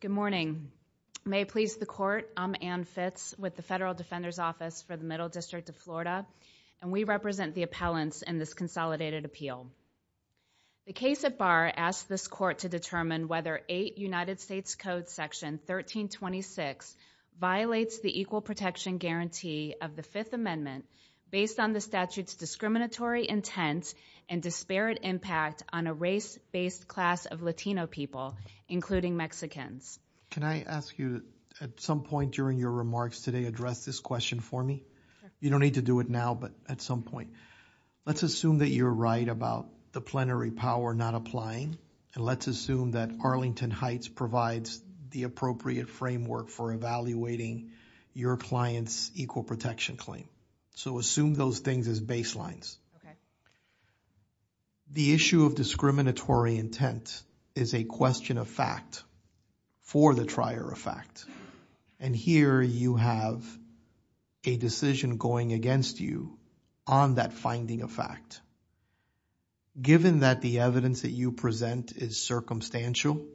Good morning. May it please the Court, I'm Anne Fitz with the Federal Defender's Office for the Middle District of Florida, and we represent the appellants in this consolidated appeal. The case at bar asks this Court to determine whether 8 United States Code Section 1326 violates the equal protection guarantee of the Fifth Amendment based on the statute's discriminatory intent and disparate impact on a race-based class of Latino people, including Mexicans. Can I ask you, at some point during your remarks today, address this question for me? You don't need to do it now, but at some point. Let's assume that you're right about the plenary power not applying, and let's assume that Arlington Heights provides the appropriate framework for evaluating your client's equal protection claim. So assume those things as baselines. The issue of discriminatory intent is a question of fact for the trier of fact, and here you have a decision going against you on that finding of fact. Given that the evidence that you present is circumstantial,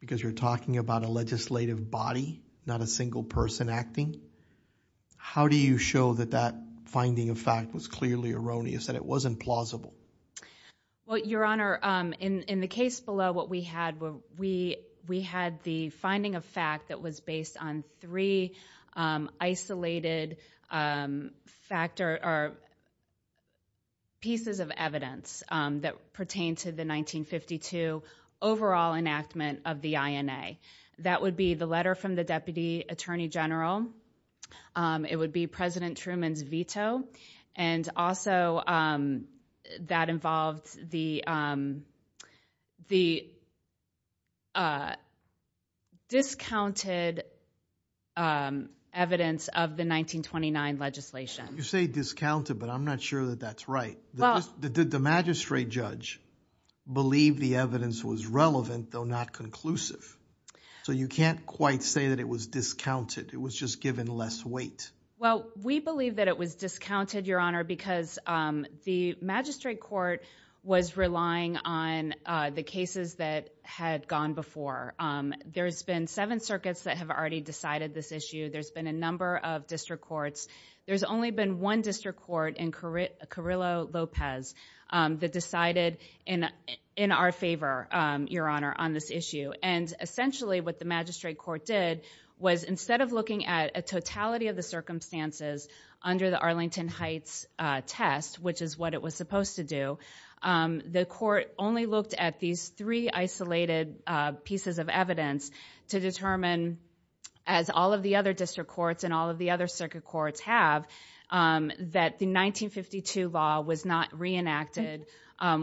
because you're talking about a legislative body, not a single person acting, how do you show that that finding of fact was clearly erroneous, that it wasn't plausible? Well, Your Honor, in the case below what we had, we had the finding of fact that was based on three isolated pieces of evidence that pertain to the 1952 overall enactment of the INA. That would be the letter from the Deputy Attorney General, it would be President Truman's veto, and also that involved the discounted evidence of the 1929 legislation. You say discounted, but I'm not sure that that's right. Did the magistrate judge believe the evidence was relevant, though not conclusive? So you can't quite say that it was discounted, it was just given less weight. Well, we believe that it was discounted, Your Honor, because the magistrate court was relying on the cases that had gone before. There's been seven circuits that have already decided this issue. There's been a number of district courts. There's only been one district court in Carrillo-Lopez that decided in our favor, Your Honor, on this issue. And essentially what the magistrate court did was instead of looking at a totality of the circumstances under the Arlington Heights test, which is what it was supposed to do, the court only looked at these three isolated pieces of evidence to determine, as all of the other district courts and all of the other circuit courts have, that the 1952 law was not reenacted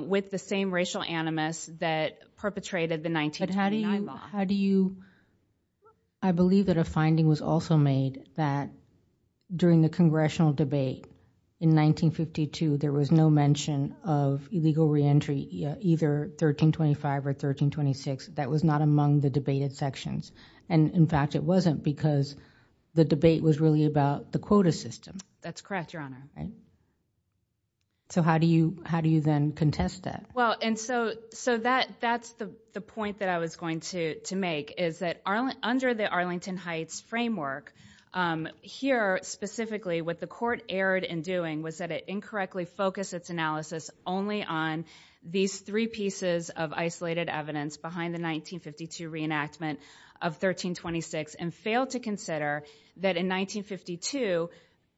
with the same racial animus that perpetrated the 1929 law. I believe that a finding was also made that during the congressional debate in 1952 there was no mention of illegal reentry, either 1325 or 1326, that was not among the debated sections. And in fact, it wasn't because the debate was really about the quota system. That's correct, Your Honor. So how do you then contest that? Well, and so that's the point that I was going to make, is that under the Arlington Heights framework, here specifically what the court erred in doing was that it incorrectly focused its only on these three pieces of isolated evidence behind the 1952 reenactment of 1326 and failed to consider that in 1952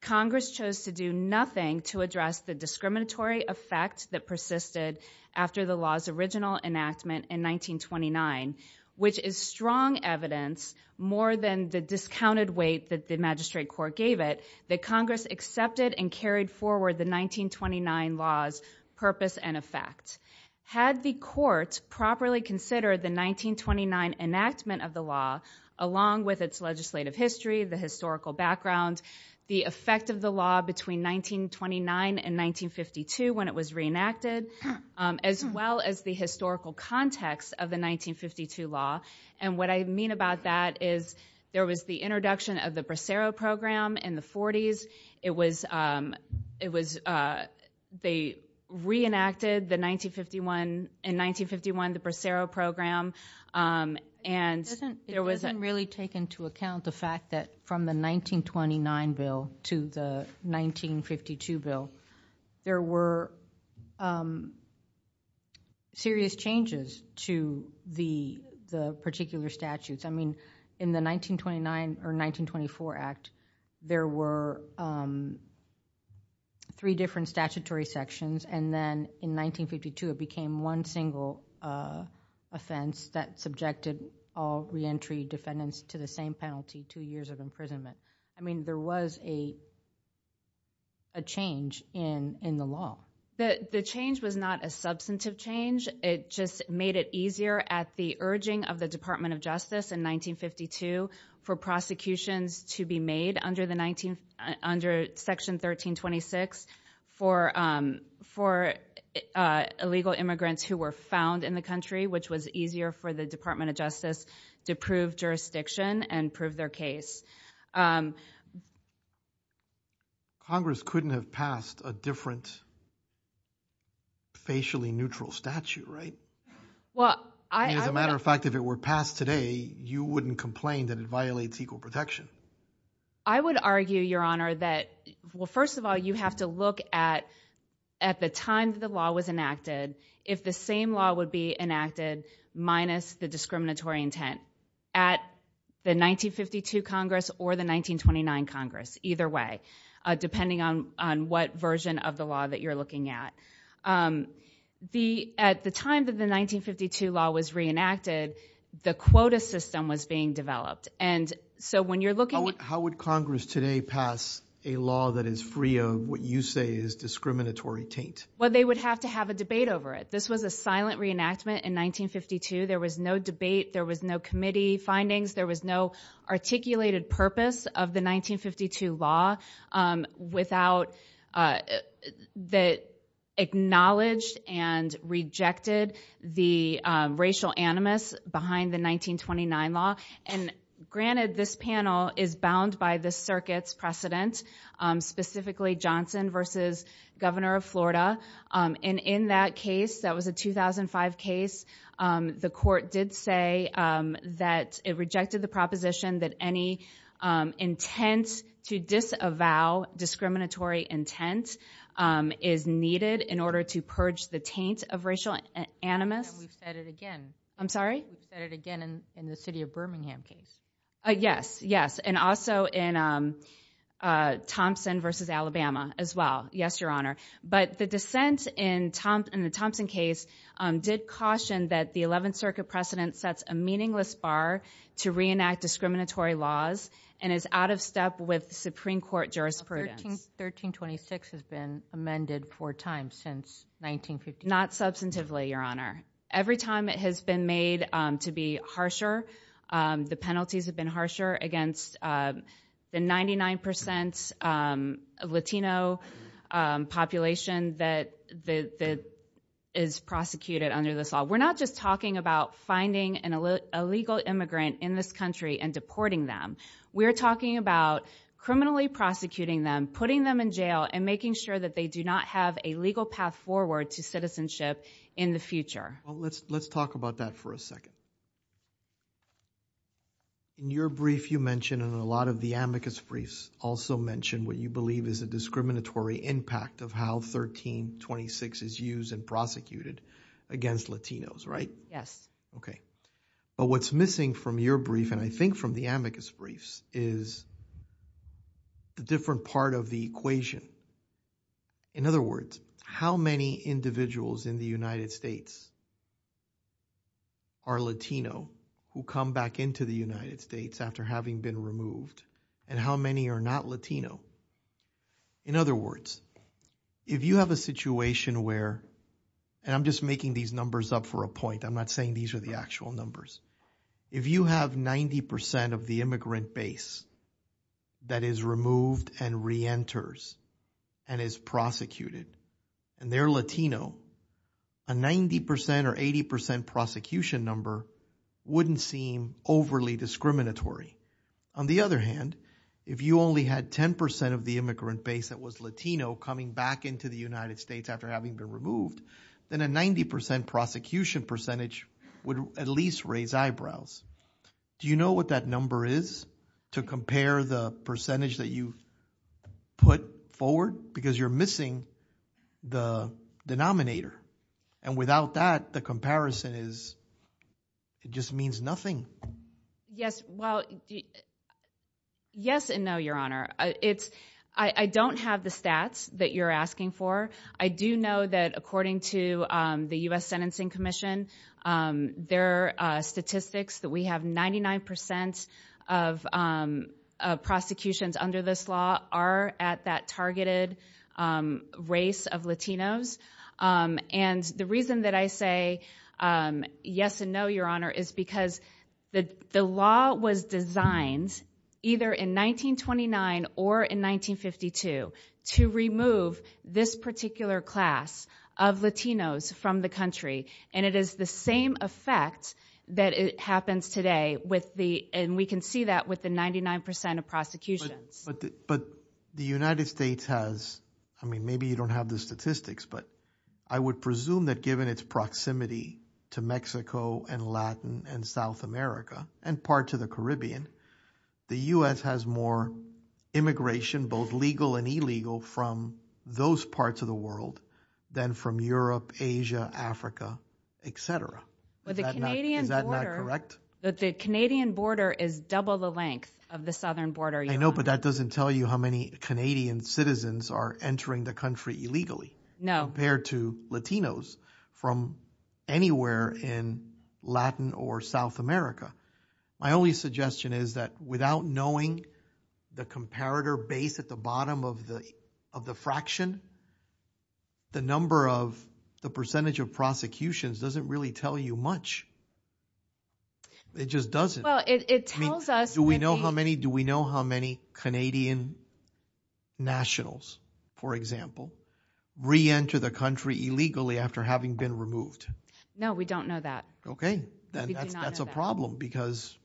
Congress chose to do nothing to address the discriminatory effect that persisted after the law's original enactment in 1929, which is strong evidence, more than the discounted weight that the magistrate court gave it, that Congress accepted and carried forward the 1929 law's purpose and effect. Had the court properly considered the 1929 enactment of the law along with its legislative history, the historical background, the effect of the law between 1929 and 1952 when it was reenacted, as well as the historical context of the 1952 law, and what I mean about that is there was the introduction of the Bracero Program in the 40s. It was, it was, they reenacted the 1951, in 1951 the Bracero Program, and it doesn't really take into account the fact that from the 1929 bill to the 1952 bill, there were serious changes to the particular statutes. I mean, in the 1929 or 1924 act, there were three different statutory sections, and then in 1952, it became one single offense that subjected all re-entry defendants to the same penalty, two years of imprisonment. I mean, there was a a change in the law. The change was not a substantive change. It just made it easier at the urging of the Department of Justice in 1952 for prosecutions to be made under the 19, under section 1326 for illegal immigrants who were found in the country, which was easier for the Department of Justice to prove jurisdiction and prove their case. Congress couldn't have passed a different facially neutral statute, right? Well, I, as a matter of fact, if it were passed today, you wouldn't complain that it violates equal protection. I would argue, Your Honor, that, well, first of all, you have to look at, at the time the law was enacted, if the same law would be enacted minus the discriminatory intent at the 1952 Congress or the 1929 Congress, either way, depending on what version of the law that you're looking at. The, at the time that the 1952 law was reenacted, the quota system was being developed. And so when you're looking at- How would Congress today pass a law that is free of what you say is discriminatory taint? Well, they would have to have a debate over it. This was a silent reenactment in 1952. There was no debate. There was no committee findings. There was no articulated purpose of the 1952 law without, that acknowledged and rejected the racial animus behind the 1929 law. And granted this panel is bound by the circuit's precedent, specifically Johnson versus Governor of Florida. And in that case, that was a 2005 case, the court did say that it rejected the proposition that any intent to disavow discriminatory intent is needed in order to purge the taint of racial animus. And we've said it again. I'm sorry? We've said it again in the city of Birmingham case. Yes, yes. And also in Thompson versus Alabama as well. Yes, Your Honor. But the dissent in the Thompson case did caution that the 11th Circuit precedent sets a meaningless bar to reenact discriminatory laws and is out of step with the Supreme Court jurisprudence. 1326 has been amended four times since 1950. Not substantively, Your Honor. Every time it has been made to be harsher, the penalties have been harsher against the 99% Latino population that is prosecuted under this law. We're not just talking about finding an illegal immigrant in this country and deporting them. We're talking about criminally prosecuting them, putting them in jail and making sure that they do not have a legal path forward to citizenship in the future. Well, let's talk about that for a second. In your brief, you mentioned and a lot of the amicus briefs also mentioned what you believe is a discriminatory impact of how 1326 is used and prosecuted against Latinos, right? Yes. Okay. But what's missing from your brief and I think from the amicus briefs is the different part of the equation. In other words, how many individuals in the United States are Latino who come back into the United States after having been removed and how many are not Latino? In other words, if you have a situation where, and I'm just making these numbers up for a point. I'm not saying these are the actual numbers. If you have 90% of the immigrant base that is removed and re-enters and is prosecuted and they're Latino, a 90% or so of those prosecution number wouldn't seem overly discriminatory. On the other hand, if you only had 10% of the immigrant base that was Latino coming back into the United States after having been removed, then a 90% prosecution percentage would at least raise eyebrows. Do you know what that number is to compare the percentage that you put forward because you're missing the denominator and without that, the comparison is, it just means nothing. Yes. Well, yes and no, your honor. I don't have the stats that you're asking for. I do know that according to the US Sentencing Commission, their statistics that we have 99% of prosecutions under this law are at that targeted race of Latinos. And the reason that I say yes and no, your honor, is because the law was designed either in 1929 or in 1952 to remove this particular class of Latinos from the country. And it is the same effect that happens today with the, and we can but the United States has, I mean, maybe you don't have the statistics, but I would presume that given its proximity to Mexico and Latin and South America and part to the Caribbean, the US has more immigration, both legal and illegal from those parts of the world than from Europe, Asia, Africa, et cetera. Is that not correct? The Canadian border is double the length of the Canadian border. I can't tell you how many Canadian citizens are entering the country illegally. No. Compared to Latinos from anywhere in Latin or South America. My only suggestion is that without knowing the comparator base at the bottom of the fraction, the number of, the percentage of prosecutions doesn't really tell you much. It just doesn't. It tells us, do we know how many, do we know how many Canadian nationals, for example, reenter the country illegally after having been removed? No, we don't know that. Okay. That's a problem because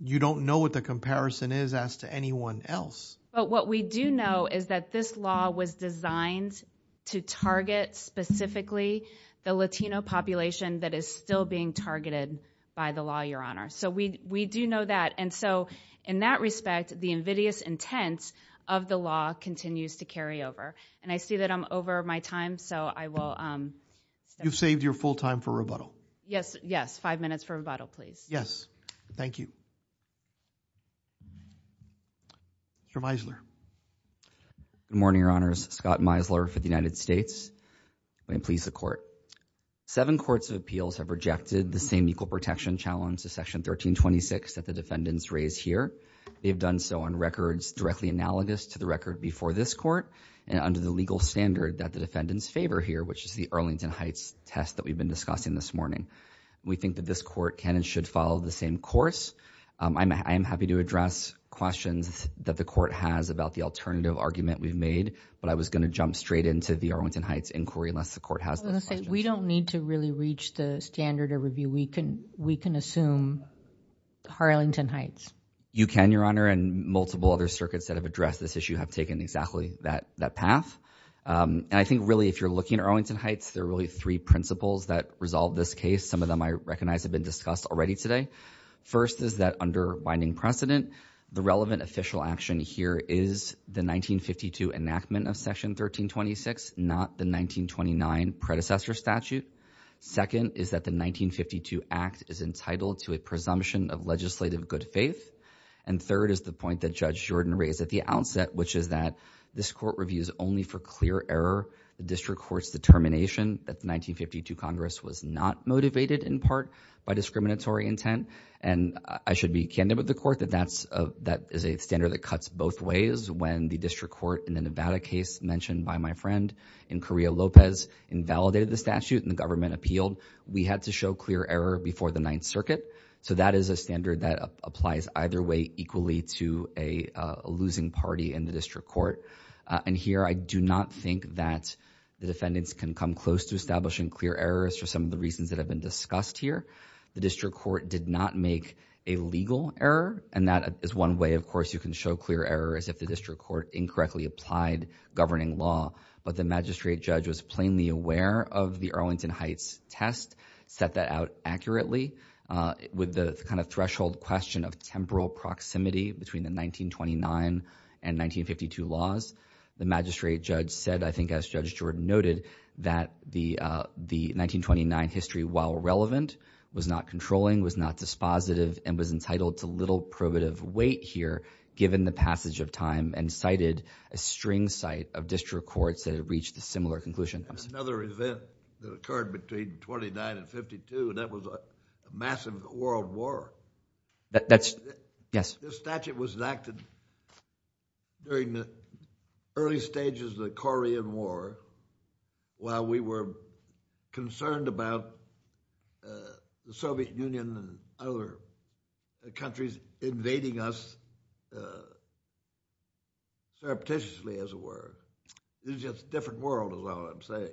you don't know what the comparison is as to anyone else. But what we do know is that this law was designed to target specifically the Latino population that is still being targeted by the law, Your Honor. So we do know that. And so in that respect, the invidious intent of the law continues to carry over. And I see that I'm over my time, so I will- You've saved your full time for rebuttal. Yes. Yes. Five minutes for rebuttal, please. Yes. Thank you. Mr. Meisler. Good morning, Your Honors. Scott Meisler for the United States. May it please the court. Seven courts of appeals have rejected the same equal protection challenge to section 1326 that the defendants raised here. They've done so on records directly analogous to the record before this court and under the legal standard that the defendants favor here, which is the Arlington Heights test that we've been discussing this morning. We think that this court can and should follow the same course. I am happy to address questions that the court has about the alternative argument we've made, but I was going to jump straight into the Arlington Heights inquiry unless the court has those questions. I was going to say, we don't need to really reach the standard of review. We can assume Arlington Heights. You can, Your Honor. And multiple other circuits that have addressed this issue have taken exactly that path. And I think really if you're looking at Arlington Heights, there are really three principles that resolve this case. Some of them I recognize have been discussed already today. First is that under precedent, the relevant official action here is the 1952 enactment of section 1326, not the 1929 predecessor statute. Second is that the 1952 act is entitled to a presumption of legislative good faith. And third is the point that Judge Jordan raised at the outset, which is that this court reviews only for clear error. The district court's determination that the 1952 Congress was not motivated in part by discriminatory intent. And I should be candid with the court that that is a standard that cuts both ways. When the district court in the Nevada case mentioned by my friend in Correa Lopez invalidated the statute and the government appealed, we had to show clear error before the Ninth Circuit. So that is a standard that applies either way equally to a losing party in the district court. And here, I do not think that the defendants can come close to establishing clear errors for some of the reasons that have discussed here. The district court did not make a legal error. And that is one way, of course, you can show clear error as if the district court incorrectly applied governing law. But the magistrate judge was plainly aware of the Arlington Heights test, set that out accurately with the kind of threshold question of temporal proximity between the 1929 and 1952 laws. The magistrate judge said, I think as Judge Jordan noted, that the 1929 history, while relevant, was not controlling, was not dispositive, and was entitled to little probative weight here, given the passage of time, and cited a string cite of district courts that had reached a similar conclusion. Another event that occurred between 29 and 52, and that was a massive world war. That's, yes. This statute was enacted during the early stages of the Korean War, while we were concerned about the Soviet Union and other countries invading us surreptitiously, as it were. This is just a different world, is all I'm saying.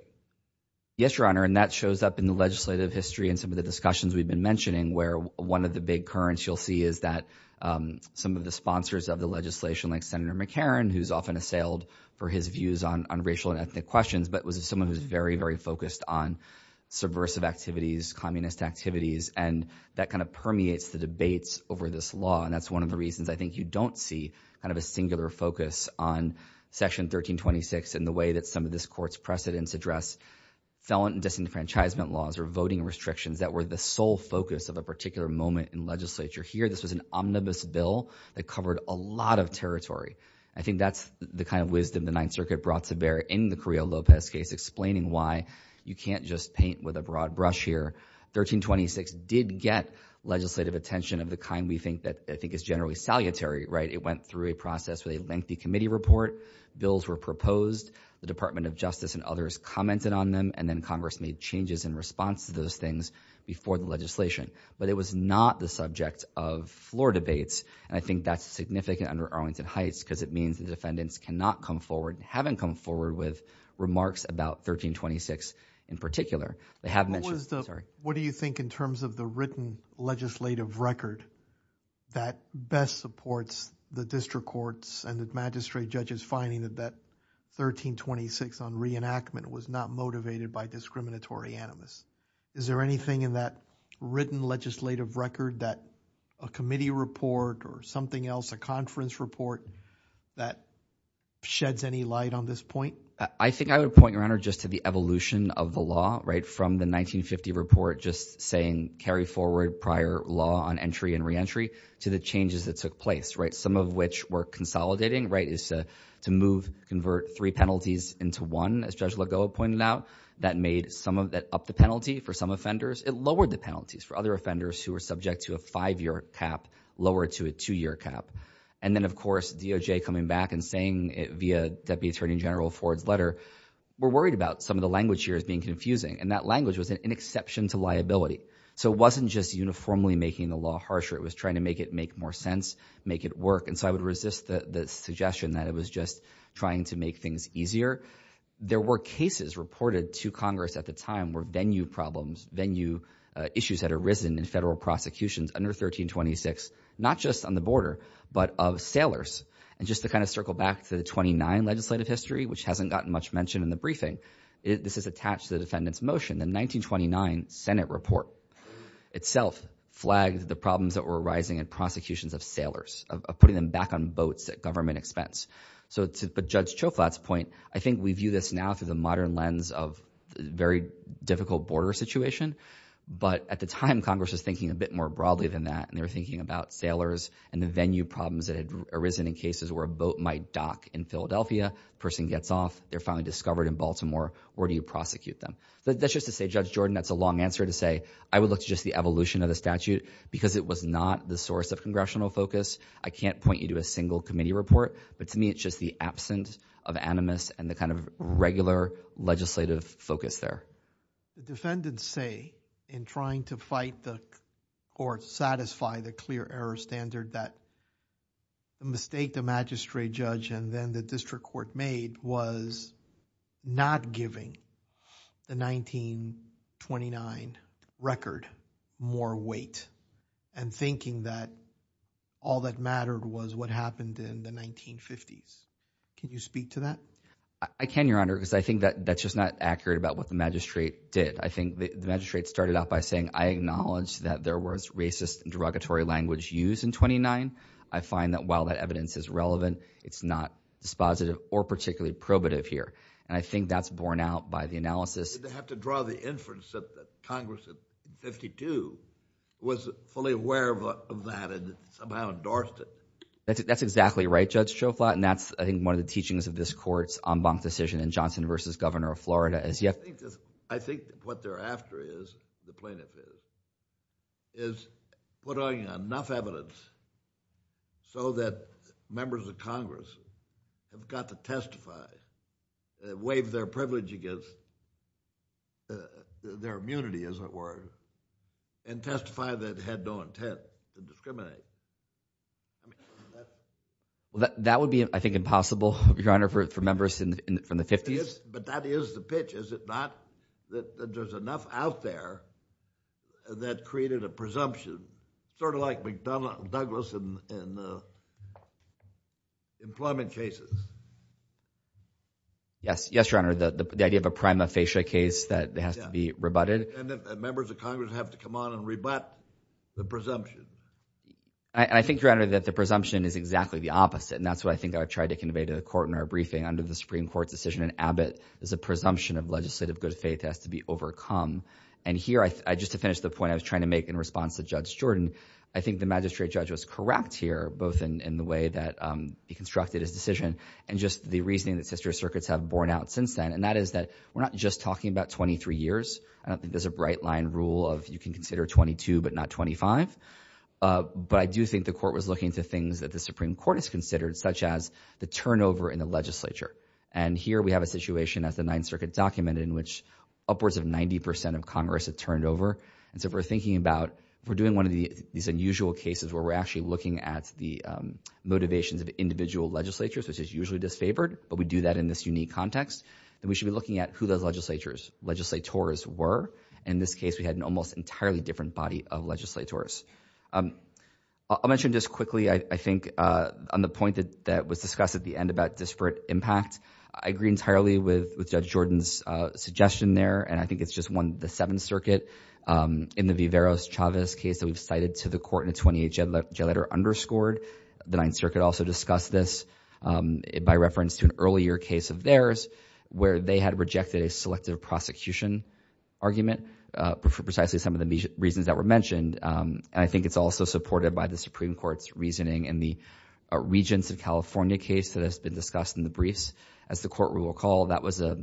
Yes, Your Honor. And that shows up in the legislative history and some of the discussions we've been mentioning, where one of the big currents you'll see is that some of the sponsors of the legislation, like Senator McCarran, who's often assailed for his views on racial and ethnic questions, but was someone who was very, very focused on subversive activities, communist activities, and that kind of permeates the debates over this law. And that's one of the reasons I think you don't see kind of a singular focus on Section 1326, and the way that some of this court's precedents address felon disenfranchisement laws or voting restrictions that were the focus of a particular moment in legislature here. This was an omnibus bill that covered a lot of territory. I think that's the kind of wisdom the Ninth Circuit brought to bear in the Carrillo Lopez case, explaining why you can't just paint with a broad brush here. 1326 did get legislative attention of the kind we think that I think is generally salutary, right? It went through a process with a lengthy committee report, bills were proposed, the Department of Justice and others commented on them, and then Congress made changes in response to those things before the legislation. But it was not the subject of floor debates, and I think that's significant under Arlington Heights, because it means the defendants cannot come forward, haven't come forward with remarks about 1326 in particular. They have mentioned, sorry. What do you think in terms of the written legislative record that best supports the district courts and the magistrate judges finding that that 1326 on reenactment was not motivated by discriminatory animus? Is there anything in that written legislative record that a committee report or something else, a conference report that sheds any light on this point? I think I would point your honor just to the evolution of the law, right? From the 1950 report just saying carry forward prior law on entry and re-entry to the changes that took place, right? Some of which were consolidating, right? Is to move, convert three penalties into one, as Judge Lagoa pointed out, that made some of that up the penalty for some offenders. It lowered the penalties for other offenders who were subject to a five-year cap, lower to a two-year cap. And then of course, DOJ coming back and saying it via Deputy Attorney General Ford's letter, we're worried about some of the language here as being confusing, and that language was an inexception to liability. So it wasn't just uniformly making the law harsher, it was trying to make it make more sense, make it work. And so I would resist the suggestion that it was just trying to make things easier. There were cases reported to Congress at the time where venue problems, venue issues had arisen in federal prosecutions under 1326, not just on the border, but of sailors. And just to kind of circle back to the 29 legislative history, which hasn't gotten much mentioned in the briefing, this is attached to the defendant's motion. The 1929 Senate report itself flagged the problems that were arising in prosecutions of sailors, of putting them back on boats at government expense. So to Judge Choflat's point, I think we view this now through the modern lens of very difficult border situation, but at the time Congress was thinking a bit more broadly than that, and they were thinking about sailors and the venue problems that had arisen in cases where a boat might dock in Philadelphia, person gets off, they're finally discovered in Baltimore, where do you prosecute them? That's just to say, Judge Jordan, that's a long answer to say, I would look to just the evolution of the statute because it was not the source of congressional focus. I can't point you to a single committee report, but to me it's just the absence of animus and the kind of regular legislative focus there. The defendants say, in trying to fight the court, satisfy the clear error standard, that the mistake the magistrate judge and then the district court made was not giving the 1929 record more weight and thinking that all that mattered was what happened in the 1950s. Can you speak to that? I can, Your Honor, because I think that that's just not accurate about what the magistrate did. I think the magistrate started out by saying, I acknowledge that there was racist derogatory language used in 29. I find that while that evidence is relevant, it's not dispositive or particularly probative here, and I think that's borne out by the analysis. They have to draw the inference that Congress of 52 was fully aware of that and somehow endorsed it. That's exactly right, Judge Schoflot, and that's, I think, one of the teachings of this court's en banc decision in Johnson v. Governor of Florida. I think what they're after is, the plaintiff is, is putting enough evidence so that members of Congress have got to testify, waive their privilege against their immunity, as it were, and testify that they had no intent to discriminate. Well, that would be, I think, impossible, Your Honor, for members from the 50s. But that is the pitch, is it not? That there's enough out there that created a presumption, sort of like McDonnell Douglas in employment cases. Yes, Your Honor, the idea of a prima facie case that has to be rebutted. And that members of Congress have to come on and rebut the presumption. I think, Your Honor, that the presumption is exactly the opposite, and that's what I think I've tried to convey to the court in our briefing under the Supreme Court's decision in Abbott, is a presumption of legislative good faith has to be overcome. And here, I, just to finish the point I was trying to make in response to Judge Jordan, I think the magistrate judge was correct here, both in the way that he constructed his decision and just the reasoning that sister circuits have since then. And that is that we're not just talking about 23 years. I don't think there's a bright line rule of you can consider 22, but not 25. But I do think the court was looking to things that the Supreme Court has considered, such as the turnover in the legislature. And here we have a situation, as the Ninth Circuit documented, in which upwards of 90% of Congress had turned over. And so if we're thinking about, we're doing one of these unusual cases where we're actually looking at the motivations of individual legislatures, which is usually disfavored, but we do that in this unique context. And we should be looking at who those legislatures, legislators were. In this case, we had an almost entirely different body of legislators. I'll mention just quickly, I think, on the point that was discussed at the end about disparate impact, I agree entirely with Judge Jordan's suggestion there. And I think it's just one, the Seventh Circuit in the Viveros-Chavez case that we've cited to the court in a 28-judge letter underscored. The Ninth Circuit also discussed this by reference to an earlier case of theirs, where they had rejected a selective prosecution argument for precisely some of the reasons that were mentioned. And I think it's also supported by the Supreme Court's reasoning in the Regents of California case that has been discussed in the briefs. As the court will recall, that was a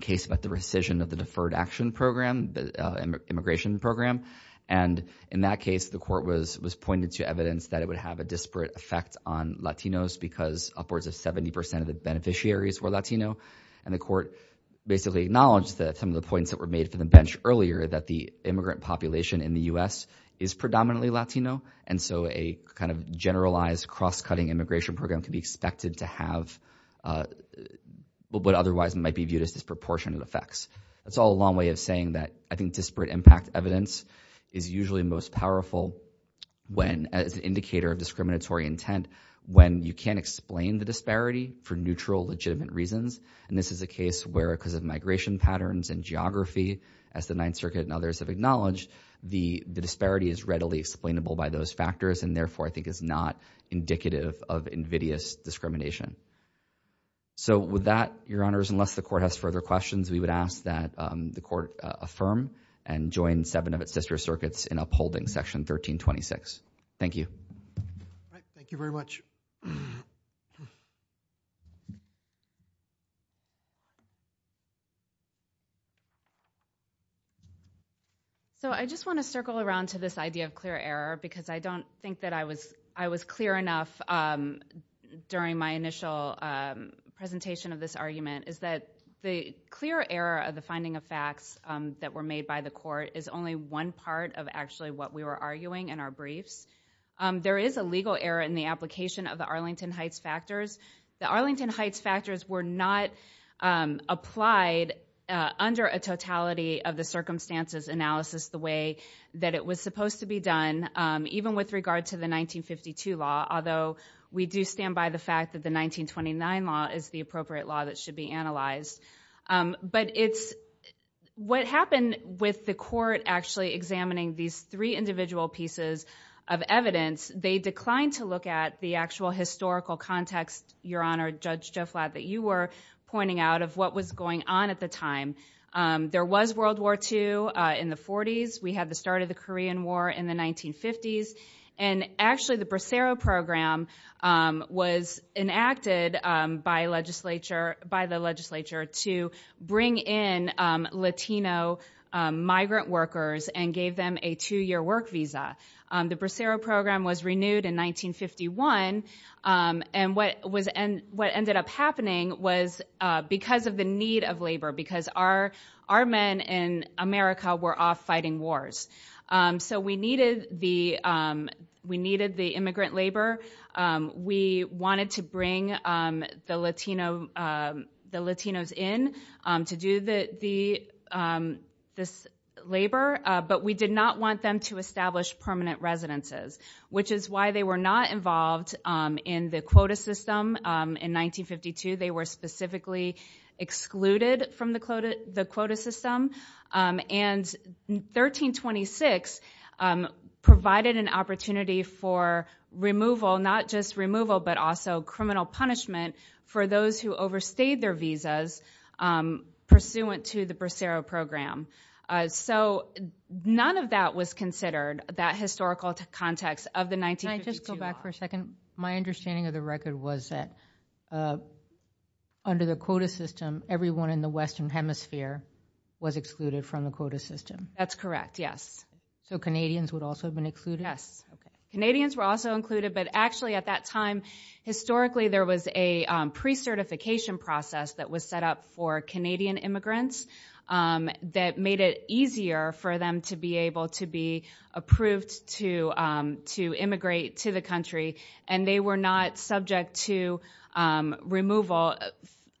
case about rescission of the Deferred Action Program, the immigration program. And in that case, the court was pointed to evidence that it would have a disparate effect on Latinos because upwards of 70% of the beneficiaries were Latino. And the court basically acknowledged that some of the points that were made from the bench earlier, that the immigrant population in the U.S. is predominantly Latino. And so a kind of generalized, cross-cutting immigration program can be expected to have what otherwise might be viewed as disproportionate effects. That's all a long way of saying that I think disparate impact evidence is usually most powerful when, as an indicator of discriminatory intent, when you can't explain the disparity for neutral, legitimate reasons. And this is a case where, because of migration patterns and geography, as the Ninth Circuit and others have acknowledged, the disparity is readily explainable by those factors, and therefore I think is not indicative of invidious discrimination. So with that, Your Honors, unless the court has further questions, we would ask that the court affirm and join seven of its sister circuits in upholding Section 1326. Thank you. Thank you very much. So I just want to circle around to this idea of clear error, because I don't think that I was clear enough during my initial presentation of this argument, is that the clear error of the finding of facts that were made by the court is only one part of actually what we were arguing in our briefs. There is a legal error in the application of the Arlington Heights factors. The Arlington Heights factors were not applied under a totality of the circumstances analysis the way that it was supposed to be done, even with regard to the 1952 law, although we do stand by the fact that the 1929 law is the appropriate law that should be analyzed. But what happened with the court actually examining these three individual pieces of evidence, they declined to look at the actual historical context, Your Honor, Judge Joflat, that you were pointing out of what was going on at the time. There was World War II in the 40s. We had the start of the Korean War in the 1950s, and actually the Bracero Program was enacted by the legislature to bring in Latino migrant workers and gave them a two-year work visa. The Bracero Program was renewed in 1951, and what ended up happening was because of the need of labor, because our men in America were off fighting wars. So we needed the immigrant labor. We wanted to bring the Latinos in to do this labor, but we did not want them to establish permanent residences, which is why they were not involved in the quota system in 1952. They were specifically excluded from the quota system, and 1326 provided an opportunity for removal, not just removal, but also criminal punishment for those who overstayed their visas pursuant to the Bracero Program. So none of that was considered, that historical context of the 1952 law. Can I just go back for a second? My understanding of the record was that under the quota system, everyone in the Western Hemisphere was excluded from the quota system. That's correct, yes. So Canadians would also have been included? Yes. Canadians were also included, but actually at that time, historically, there was a pre-certification process that was set up for Canadian immigrants that made it easier for them to be able to be approved to immigrate to the country, and they were not subject to removal.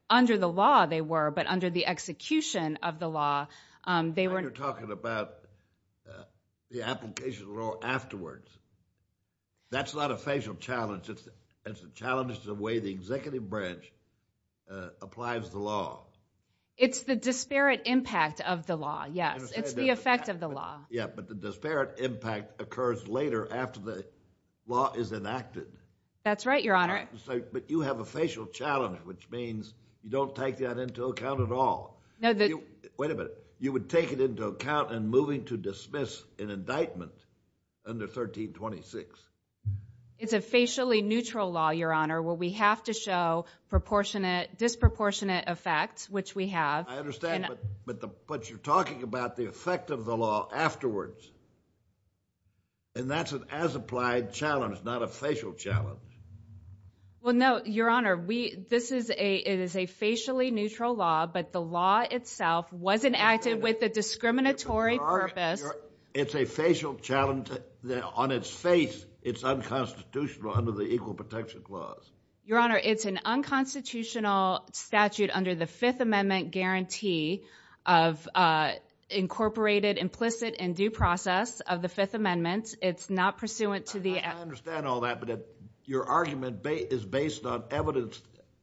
Under the law, they were, but under the execution of the law, they were... You're talking about the application of the law afterwards. That's not a facial challenge. It's a challenge to the way the executive branch applies the law. It's the disparate impact of the law, yes. It's the effect of the law. Yeah, but the disparate impact occurs later after the law is enacted. That's right, Your Honor. But you have a facial challenge, which means you don't take that into account at all. Wait a minute. You would take it into account in moving to dismiss an indictment under 1326? It's a facially neutral law, Your Honor, where we have to show disproportionate effects, which we have. I understand, but you're talking about the effect of the law afterwards, and that's an as-applied challenge, not a facial challenge. Well, no, Your Honor. It is a facially neutral law, but the law itself wasn't acted with a discriminatory purpose. It's a facial challenge. On its face, it's unconstitutional under the Equal Protection Clause. Your Honor, it's an unconstitutional statute under the Fifth Amendment guarantee of incorporated implicit and due process of the Fifth Amendment. It's not pursuant to the... I understand all that, but your argument is based on evidence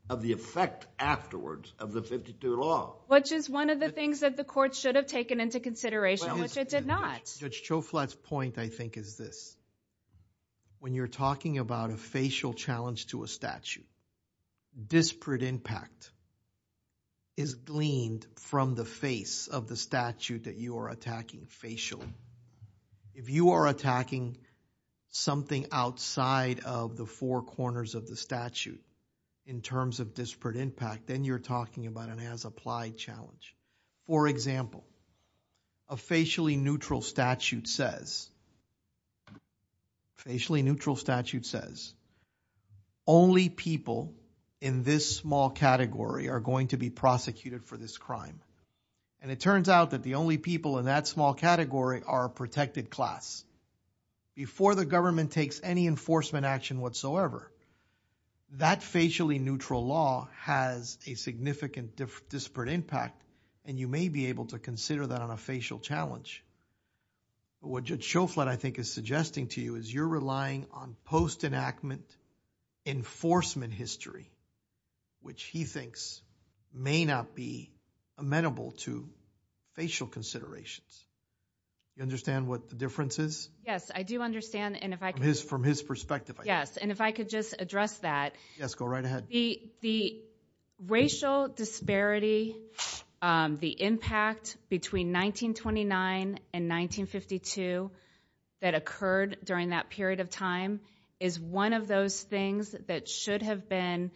of the effect afterwards of the 52 law. Which is one of the things that the court should have taken into consideration, which it did not. Judge Choflat's point, I think, is this. When you're talking about a facial challenge to a statute, disparate impact is gleaned from the face of the statute that you are attacking facially. If you are attacking something outside of the four corners of the statute in terms of disparate impact, then you're talking about an as-applied challenge. For example, a facially neutral statute says, facially neutral statute says, only people in this small category are going to be prosecuted for this crime. And it turns out that the only people in that small category are a protected class. Before the government takes any enforcement action whatsoever, that facially neutral law has a significant disparate impact, and you may be able to consider that on a facial challenge. What Judge Choflat, I think, is suggesting to you is you're relying on post-enactment enforcement history, which he thinks may not be amenable to facial considerations. You understand what the difference is? Yes, I do understand. And if I could just address that. Yes, go right ahead. The racial disparity, the impact between 1929 and 1952 that occurred during that period of time is one of those things that should have been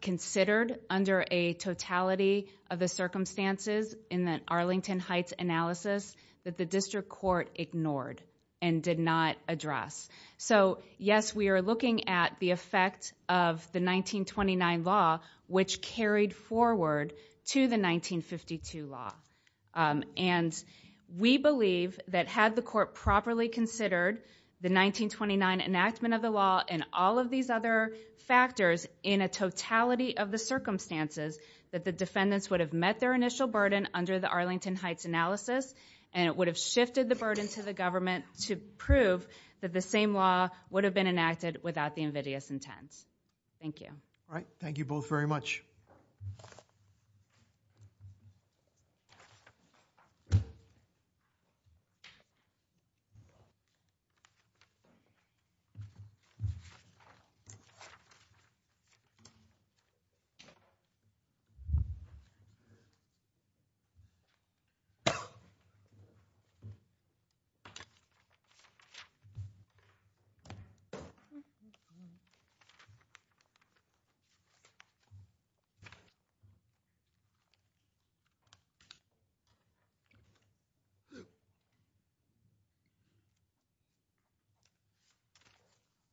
considered under a totality of the circumstances in the Arlington Heights analysis that the district court ignored and did not address. So yes, we are looking at the effect of the 1929 law, which carried forward to the 1952 law. And we believe that had the court properly considered the 1929 enactment of the law and all of these other factors in a totality of the circumstances, that the defendants would have met their initial burden under the Arlington Heights analysis, and it would have shifted the burden to the government to prove that the same law would have been enacted without the invidious intent. Thank you. All right. Thank you both very much.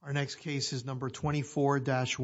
Our next case is number 24-1.